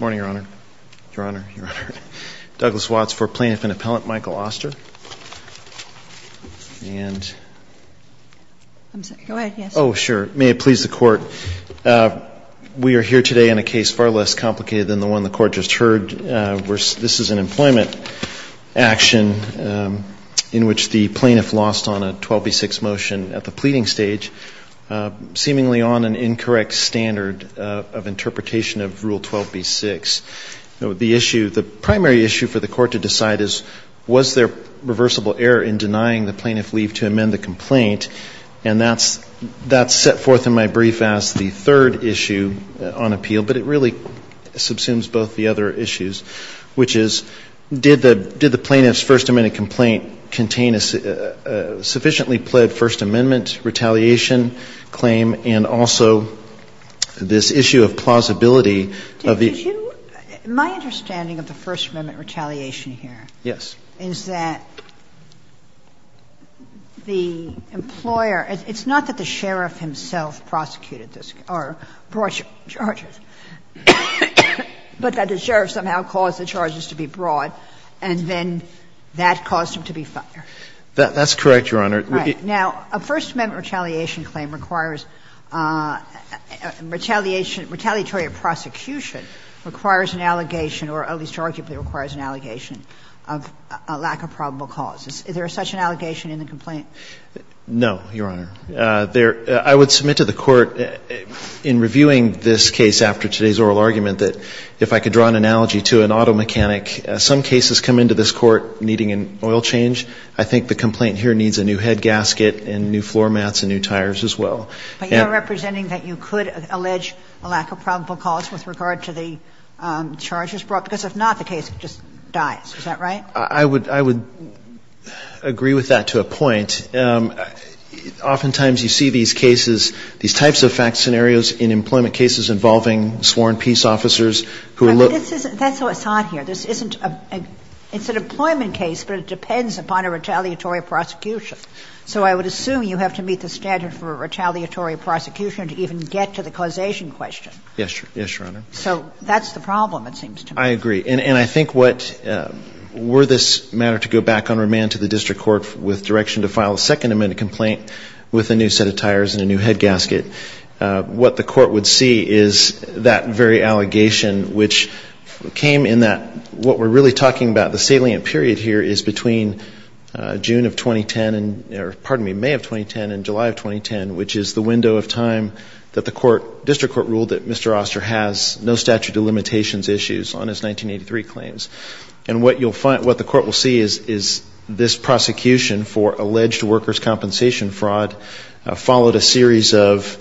Morning, Your Honor. Your Honor, Your Honor. Douglas Watts for Plaintiff and Appellant, Michael Oster. And... I'm sorry, go ahead, yes. Oh, sure. May it please the Court. We are here today on a case far less complicated than the one the Court just heard. This is an employment action in which the plaintiff lost on a 12B6 motion at the pleading stage, seemingly on an incorrect standard of interpretation of Rule 12B6. The primary issue for the Court to decide is, was there reversible error in denying the plaintiff leave to amend the complaint? And that's set forth in my brief as the third issue on appeal, but it really subsumes both the other issues, which is, did the plaintiff's First Amendment complaint contain a sufficiently pled First Amendment retaliation claim, and also this issue of plausibility of the issue? Did you – my understanding of the First Amendment retaliation here is that the employer – it's not that the sheriff himself prosecuted this or brought charges, but that the sheriff somehow caused the charges to be brought, and then that caused him to be fired. That's correct, Your Honor. Right. Now, a First Amendment retaliation claim requires retaliation – retaliatory prosecution requires an allegation, or at least arguably requires an allegation, of a lack of probable causes. Is there such an allegation in the complaint? No, Your Honor. There – I would submit to the Court in reviewing this case after today's oral argument that if I could draw an analogy to an auto mechanic, some cases come into this court needing an oil change. I think the complaint here needs a new head gasket and new floor mats and new tires as well. But you're representing that you could allege a lack of probable cause with regard to the charges brought, because if not, the case just dies. Is that right? I would – I would agree with that to a point. Oftentimes, you see these cases – these types of fact scenarios in employment cases involving sworn peace officers who look – But this isn't – that's what's odd here. This isn't a – it's an employment case, but it depends upon a retaliatory prosecution. So I would assume you have to meet the standard for a retaliatory prosecution to even get to the causation question. Yes, Your Honor. So that's the problem, it seems to me. I agree. And I think what – were this matter to go back on remand to the district court with direction to file a Second Amendment complaint with a new set of tires and a new is that very allegation, which came in that – what we're really talking about, the salient period here is between June of 2010 and – or, pardon me, May of 2010 and July of 2010, which is the window of time that the court – district court ruled that Mr. Oster has no statute of limitations issues on his 1983 claims. And what you'll find – what the court will see is this prosecution for alleged workers' compensation fraud followed a series of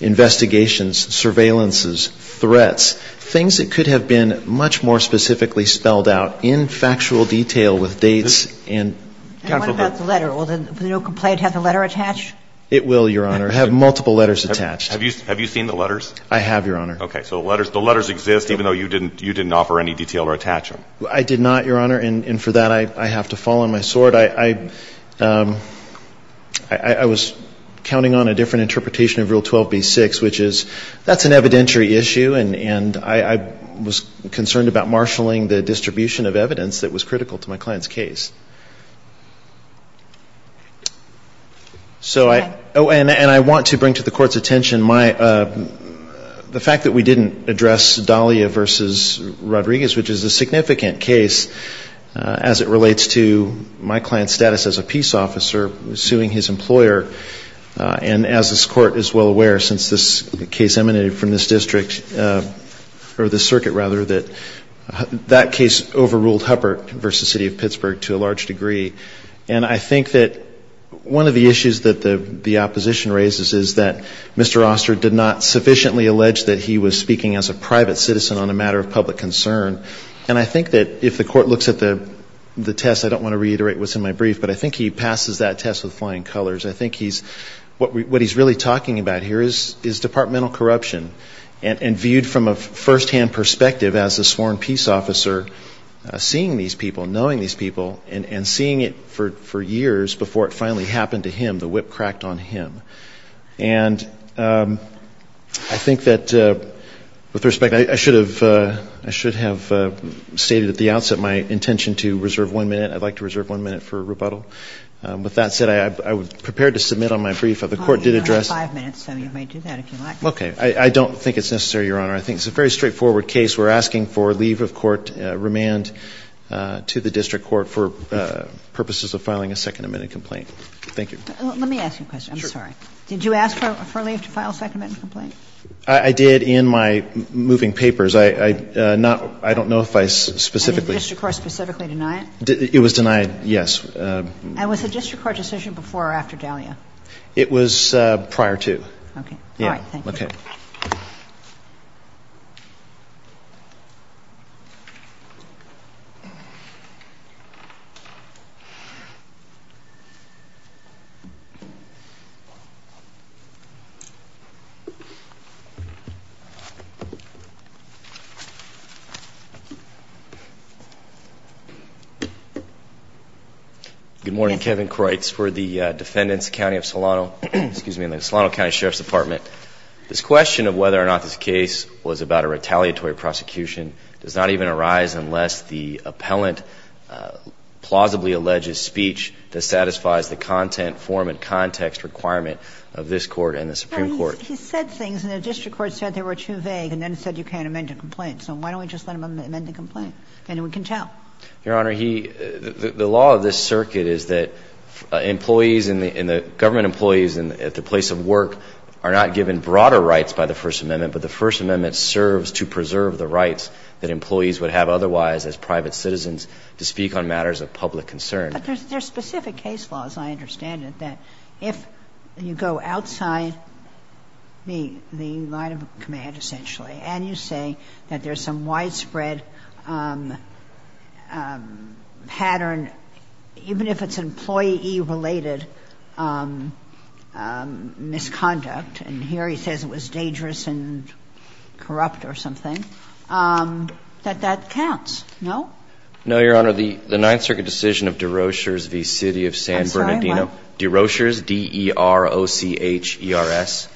investigations, surveillances, threats, things that could have been much more specifically spelled out in factual detail with dates and – And what about the letter? Will the new complaint have the letter attached? It will, Your Honor. It will have multiple letters attached. Have you seen the letters? I have, Your Honor. Okay. So the letters exist even though you didn't offer any detail or attach them. I did not, Your Honor, and for that I have to fall on my sword. I was counting on a different interpretation of Rule 12b-6, which is that's an evidentiary issue and I was concerned about marshalling the distribution of evidence that was critical to my client's case. So I – oh, and I want to bring to the court's attention my – the fact that we didn't address Dahlia Rodriguez, which is a significant case as it relates to my client's status as a peace officer suing his employer. And as this court is well aware, since this case emanated from this district – or this circuit, rather, that that case overruled Huppert v. City of Pittsburgh to a large degree. And I think that one of the issues that the opposition raises is that Mr. Oster did not sufficiently allege that he was speaking as a private citizen on a matter of public concern. And I think that if the court looks at the test – I don't want to reiterate what's in my brief, but I think he passes that test with flying colors. I think he's – what he's really talking about here is departmental corruption. And viewed from a firsthand perspective as a sworn peace officer, seeing these people, knowing these people, and seeing it for years before it finally happened to him, the whip cracked on him. And I think that, with respect, I should have – I should have stated at the outset my intention to reserve one minute. I'd like to reserve one minute for rebuttal. With that said, I'm prepared to submit on my brief. The court did address – You only have five minutes, so you may do that if you like. Okay. I don't think it's necessary, Your Honor. I think it's a very straightforward case. We're asking for leave of court remand to the district court for purposes of filing a second amendment complaint. Thank you. Let me ask you a question. I'm sorry. Did you ask for leave to file a second amendment complaint? I did in my moving papers. I don't know if I specifically – Did the district court specifically deny it? It was denied, yes. And was the district court decision before or after Dahlia? It was prior to. Okay. All right. Thank you. Okay. Thank you. Good morning. Kevin Kreutz for the Defendants County of Solano – excuse me – in the Solano County Sheriff's Department. This question of whether or not this case was about a retaliatory prosecution does not even arise unless the appellant plausibly alleges speech that satisfies the content, form, and context requirement of this Court and the Supreme Court. Well, he said things, and the district court said they were too vague, and then said you can't amend a complaint. So why don't we just let him amend the complaint? Then we can tell. Your Honor, he – the law of this circuit is that employees and the government employees at the place of work are not given broader rights by the First Amendment, but the First Amendment serves to preserve the rights that employees would have otherwise as private citizens to speak on matters of public concern. But there's specific case laws, I understand it, that if you go outside the line of command, essentially, and you say that there's some widespread pattern, even if it's employee-related misconduct, and here he says it was dangerous and corrupt or something, that that counts, no? No, Your Honor. The Ninth Circuit decision of Deroshers v. City of San Bernardino. I'm sorry, what? Deroshers, D-E-R-O-C-H-E-R-S,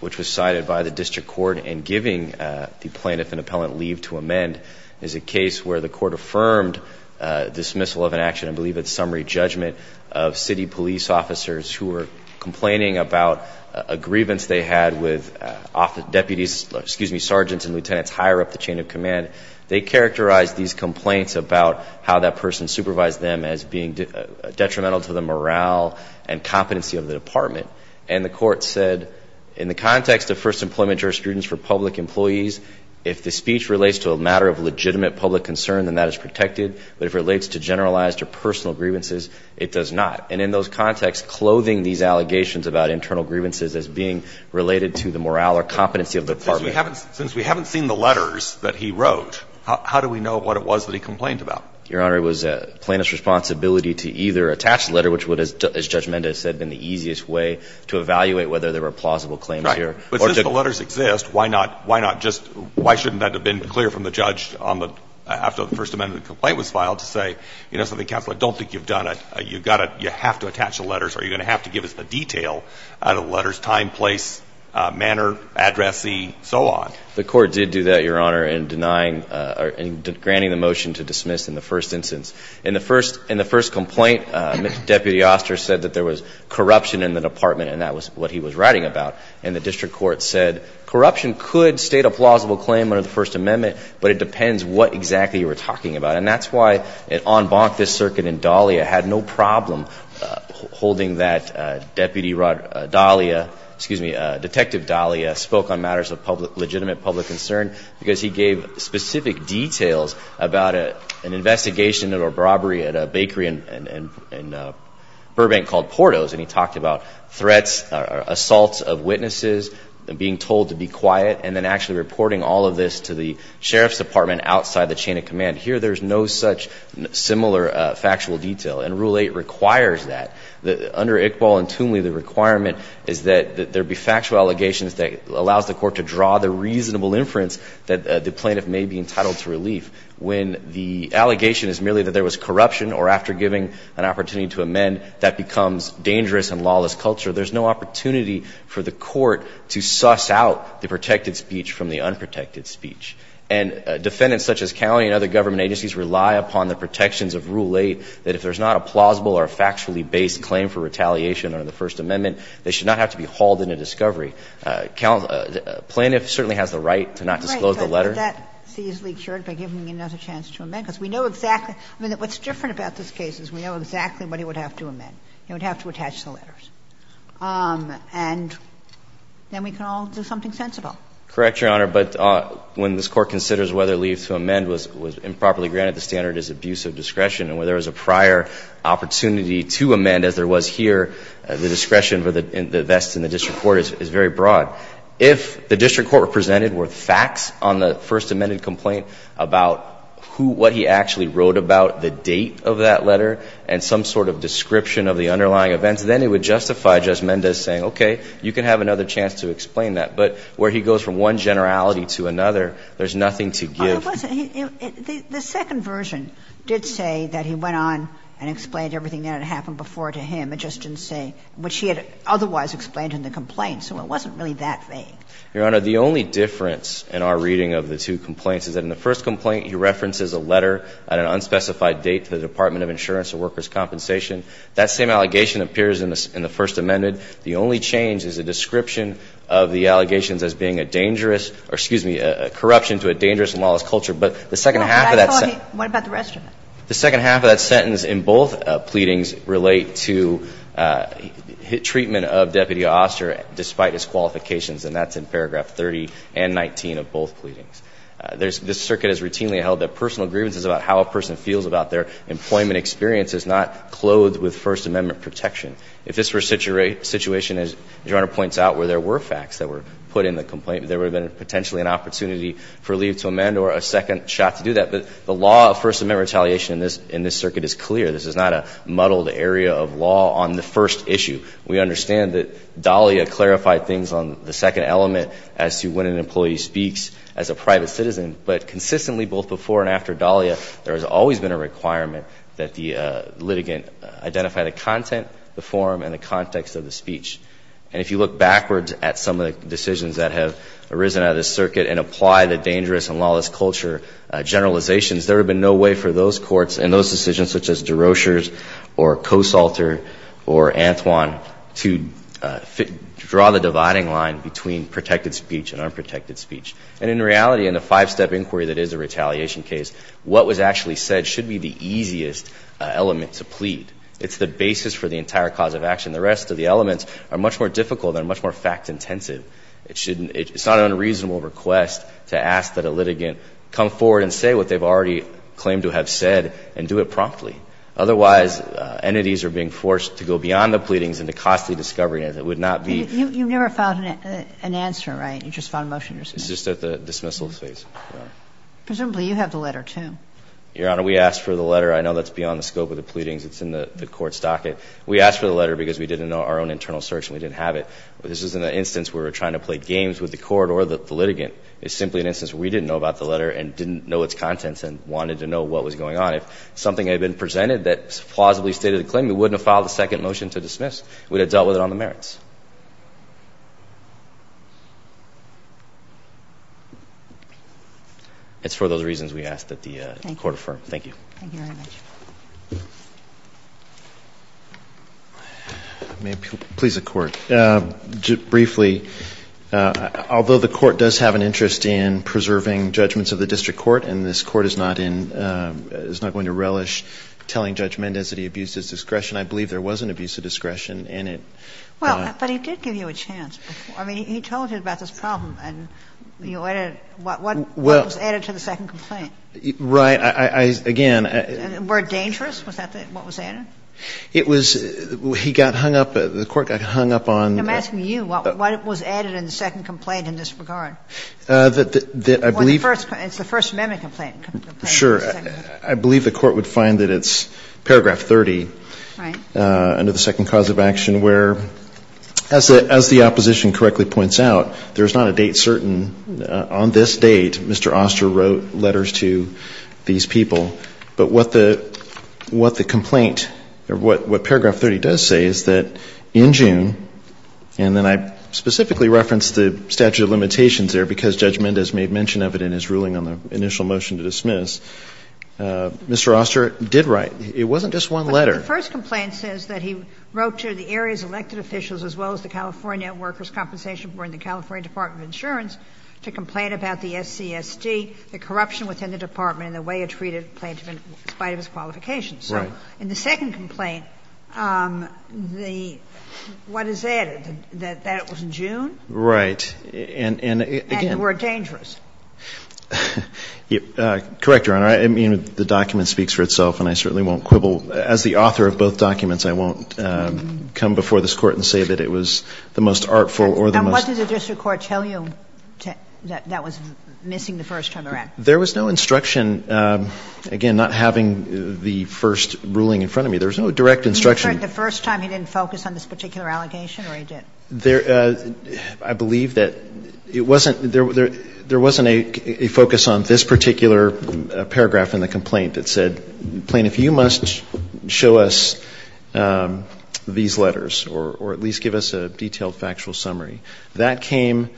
which was cited by the district court in giving the plaintiff an appellant leave to amend, is a case where the court affirmed dismissal of an action, and I believe it's summary judgment, of city police officers who were complaining about a grievance they had with deputies, excuse me, sergeants and lieutenants higher up the chain of command. They characterized these complaints about how that person supervised them as being detrimental to the morale and competency of the department. And the court said, in the context of First Employment Jurisprudence for public employees, if the speech relates to a matter of legitimate public concern, then that is protected, but if it relates to generalized or personal grievances, it does not. And in those contexts, clothing these allegations about internal grievances as being related to the morale or competency of the department. But since we haven't seen the letters that he wrote, how do we know what it was that he complained about? Your Honor, it was the plaintiff's responsibility to either attach the letter, which would, as Judge Mendez said, have been the easiest way to evaluate whether there were plausible claims here. Right. But since the letters exist, why not just why shouldn't that have been clear from the judge after the First Amendment complaint was filed to say, you know something, Counselor, I don't think you've done it. You have to attach the letters or you're going to have to give us the detail out of the letters, time, place, manner, addressee, so on. The court did do that, Your Honor, in denying or granting the motion to dismiss in the first instance. In the first complaint, Deputy Oster said that there was corruption in the department and that was what he was writing about. And the district court said corruption could state a plausible claim under the First Amendment, but it depends what exactly you were talking about. And that's why on bonk this circuit and Dahlia had no problem holding that Deputy Rod Dahlia, excuse me, Detective Dahlia, spoke on matters of legitimate public concern because he gave specific details about an investigation of a robbery at a bakery in Burbank called Porto's. And he talked about threats, assaults of witnesses, being told to be quiet, and then actually reporting all of this to the sheriff's department outside the chain of command. Here there's no such similar factual detail. And Rule 8 requires that. Under Iqbal and Toomley, the requirement is that there be factual allegations that allows the court to draw the reasonable inference that the plaintiff may be entitled to relief. When the allegation is merely that there was corruption or after giving an opportunity to amend, that becomes dangerous and lawless culture. There's no opportunity for the court to suss out the protected speech from the unprotected speech. And defendants such as Cownie and other government agencies rely upon the protections of Rule 8 that if there's not a plausible or factually based claim for retaliation under the First Amendment, they should not have to be hauled into discovery. The plaintiff certainly has the right to not disclose the letter. Ginsburg. Right. But that's easily cured by giving him another chance to amend. Because we know exactly. I mean, what's different about this case is we know exactly what he would have to amend. He would have to attach the letters. And then we can all do something sensible. Correct, Your Honor. But when this Court considers whether relief to amend was improperly granted, the standard is abuse of discretion. And where there was a prior opportunity to amend, as there was here, the discretion for the vest in the district court is very broad. If the district court presented were facts on the First Amendment complaint about then it would justify Judge Mendez saying, okay, you can have another chance to explain that. But where he goes from one generality to another, there's nothing to give. Well, it wasn't. The second version did say that he went on and explained everything that had happened before to him. It just didn't say what she had otherwise explained in the complaint. So it wasn't really that vague. Your Honor, the only difference in our reading of the two complaints is that in the first complaint, he references a letter at an unspecified date to the Department of Insurance and Workers' Compensation. That same allegation appears in the First Amendment. The only change is a description of the allegations as being a dangerous or, excuse me, a corruption to a dangerous and lawless culture. But the second half of that sentence. What about the rest of it? The second half of that sentence in both pleadings relate to treatment of Deputy Oster despite his qualifications, and that's in paragraph 30 and 19 of both pleadings. This Circuit has routinely held that personal grievances about how a person feels about their employment experience is not clothed with First Amendment protection. If this were a situation, as Your Honor points out, where there were facts that were put in the complaint, there would have been potentially an opportunity for leave to amend or a second shot to do that. But the law of First Amendment retaliation in this Circuit is clear. This is not a muddled area of law on the first issue. We understand that Dahlia clarified things on the second element as to when an employee speaks as a private citizen. But consistently, both before and after Dahlia, there has always been a requirement that the litigant identify the content, the form, and the context of the speech. And if you look backwards at some of the decisions that have arisen out of this Circuit and apply the dangerous and lawless culture generalizations, there would have been no way for those courts and those decisions such as DeRocher's or Kosalter or Antoine to draw the dividing line between protected speech and unprotected speech. And in reality, in a five-step inquiry that is a retaliation case, what was actually said should be the easiest element to plead. It's the basis for the entire cause of action. The rest of the elements are much more difficult and much more fact-intensive. It shouldn't – it's not an unreasonable request to ask that a litigant come forward and say what they've already claimed to have said and do it promptly. Otherwise, entities are being forced to go beyond the pleadings into costly discovery and it would not be – You never found an answer, right? You just found motion to respond. It's just at the dismissal phase, Your Honor. Presumably, you have the letter too. Your Honor, we asked for the letter. I know that's beyond the scope of the pleadings. It's in the court's docket. We asked for the letter because we didn't know our own internal search and we didn't have it. This isn't an instance where we're trying to play games with the court or the litigant. It's simply an instance where we didn't know about the letter and didn't know its contents and wanted to know what was going on. If something had been presented that plausibly stated a claim, we wouldn't have filed a second motion to dismiss. We'd have dealt with it on the merits. It's for those reasons we ask that the court affirm. Thank you. Thank you very much. May it please the court. Briefly, although the court does have an interest in preserving judgments of the district court and this court is not in – is not going to relish telling Judge Mendez that he abused his discretion, I Well, I don't think so. But he did give you a chance before. I mean, he told you about this problem. What was added to the second complaint? Right. Again. Were it dangerous? Was that what was added? It was – he got hung up – the court got hung up on I'm asking you. What was added in the second complaint in this regard? I believe It's the First Amendment complaint. Sure. I believe the court would find that it's paragraph 30. Right. Under the second cause of action where, as the opposition correctly points out, there's not a date certain. On this date, Mr. Oster wrote letters to these people. But what the complaint or what paragraph 30 does say is that in June, and then I specifically referenced the statute of limitations there because Judge Mendez made mention of it in his ruling on the initial motion to dismiss, Mr. Oster did write. It wasn't just one letter. The first complaint says that he wrote to the area's elected officials as well as the California Workers' Compensation Board and the California Department of Insurance to complain about the SCSD, the corruption within the department and the way it treated plaintiff in spite of his qualifications. Right. So in the second complaint, the – what is added? That it was in June? Right. And again And were it dangerous? Correct, Your Honor. I mean, the document speaks for itself, and I certainly won't quibble. As the author of both documents, I won't come before this Court and say that it was the most artful or the most And what did the district court tell you that that was missing the first time around? There was no instruction, again, not having the first ruling in front of me. There was no direct instruction. You inferred the first time he didn't focus on this particular allegation or he did? There – I believe that it wasn't – there wasn't a focus on this particular paragraph in the complaint that said, plaintiff, you must show us these letters or at least give us a detailed factual summary. That came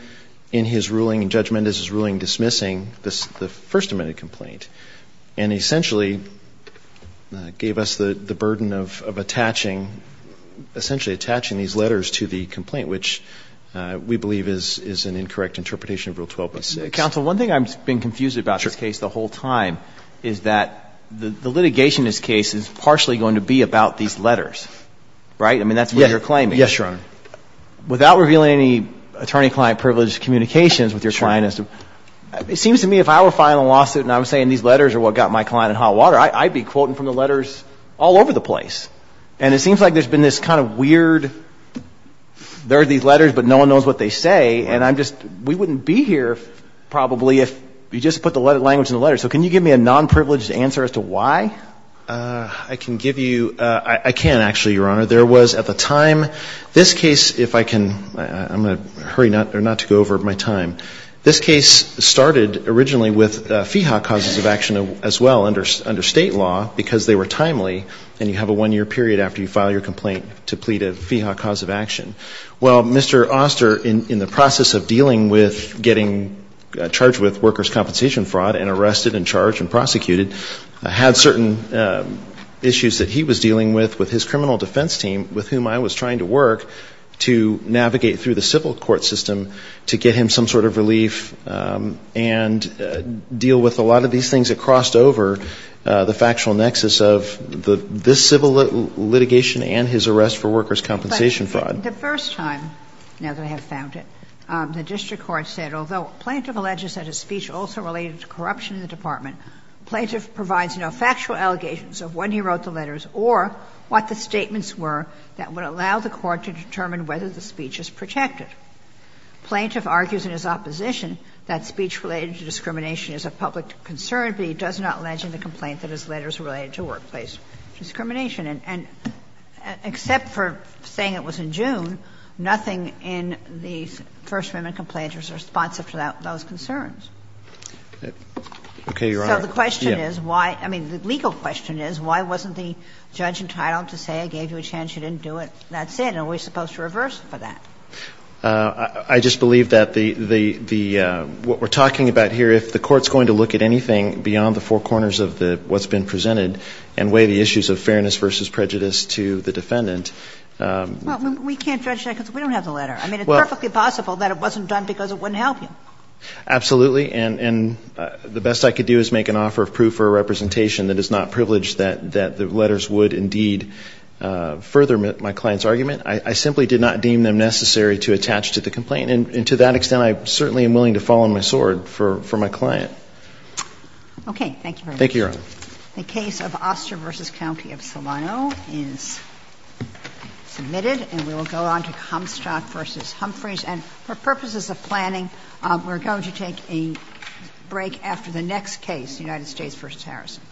in his ruling in judgment as his ruling dismissing the First Amendment complaint and essentially gave us the burden of attaching, essentially attaching these letters to the complaint, which we believe is an incorrect interpretation of Rule 12.6. Mr. Counsel, one thing I've been confused about this case the whole time is that the litigation in this case is partially going to be about these letters. Right? I mean, that's what you're claiming. Yes, Your Honor. Without revealing any attorney-client-privileged communications with Your Highness, it seems to me if I were filing a lawsuit and I was saying these letters are what got my client in hot water, I'd be quoting from the letters all over the place. And it seems like there's been this kind of weird, there are these letters but no probably if you just put the language in the letters. So can you give me a non-privileged answer as to why? I can give you, I can actually, Your Honor. There was at the time, this case, if I can, I'm going to hurry not to go over my time. This case started originally with FIHA causes of action as well under State law because they were timely and you have a one-year period after you file your complaint to plead a FIHA cause of action. Well, Mr. Oster, in the process of dealing with getting charged with workers compensation fraud and arrested and charged and prosecuted, had certain issues that he was dealing with, with his criminal defense team with whom I was trying to work to navigate through the civil court system to get him some sort of relief and deal with a lot of these things that crossed over the factual nexus of this civil litigation and his arrest for workers compensation fraud. The first time, now that I have found it, the district court said, although Plaintiff alleges that his speech also related to corruption in the department, Plaintiff provides no factual allegations of when he wrote the letters or what the statements were that would allow the court to determine whether the speech is protected. Plaintiff argues in his opposition that speech related to discrimination is a public concern, but he does not allege in the complaint that his letters are related to workplace discrimination. And except for saying it was in June, nothing in the First Amendment complaint was responsive to that or those concerns. So the question is, why – I mean, the legal question is, why wasn't the judge entitled to say I gave you a chance, you didn't do it, that's it? Are we supposed to reverse for that? Oster, I just believe that the – what we're talking about here, if the court's going to look at anything beyond the four corners of what's been presented and weigh the issues of fairness versus prejudice to the defendant. Well, we can't judge that because we don't have the letter. I mean, it's perfectly possible that it wasn't done because it wouldn't help you. Absolutely. And the best I could do is make an offer of proof or a representation that is not privileged that the letters would indeed further my client's argument. I simply did not deem them necessary to attach to the complaint. And to that extent, I certainly am willing to fall on my sword for my client. Okay. Thank you very much. Thank you, Your Honor. The case of Oster v. County of Solano is submitted, and we will go on to Homstock v. Humphreys. And for purposes of planning, we're going to take a break after the next case, United States v. Harrison.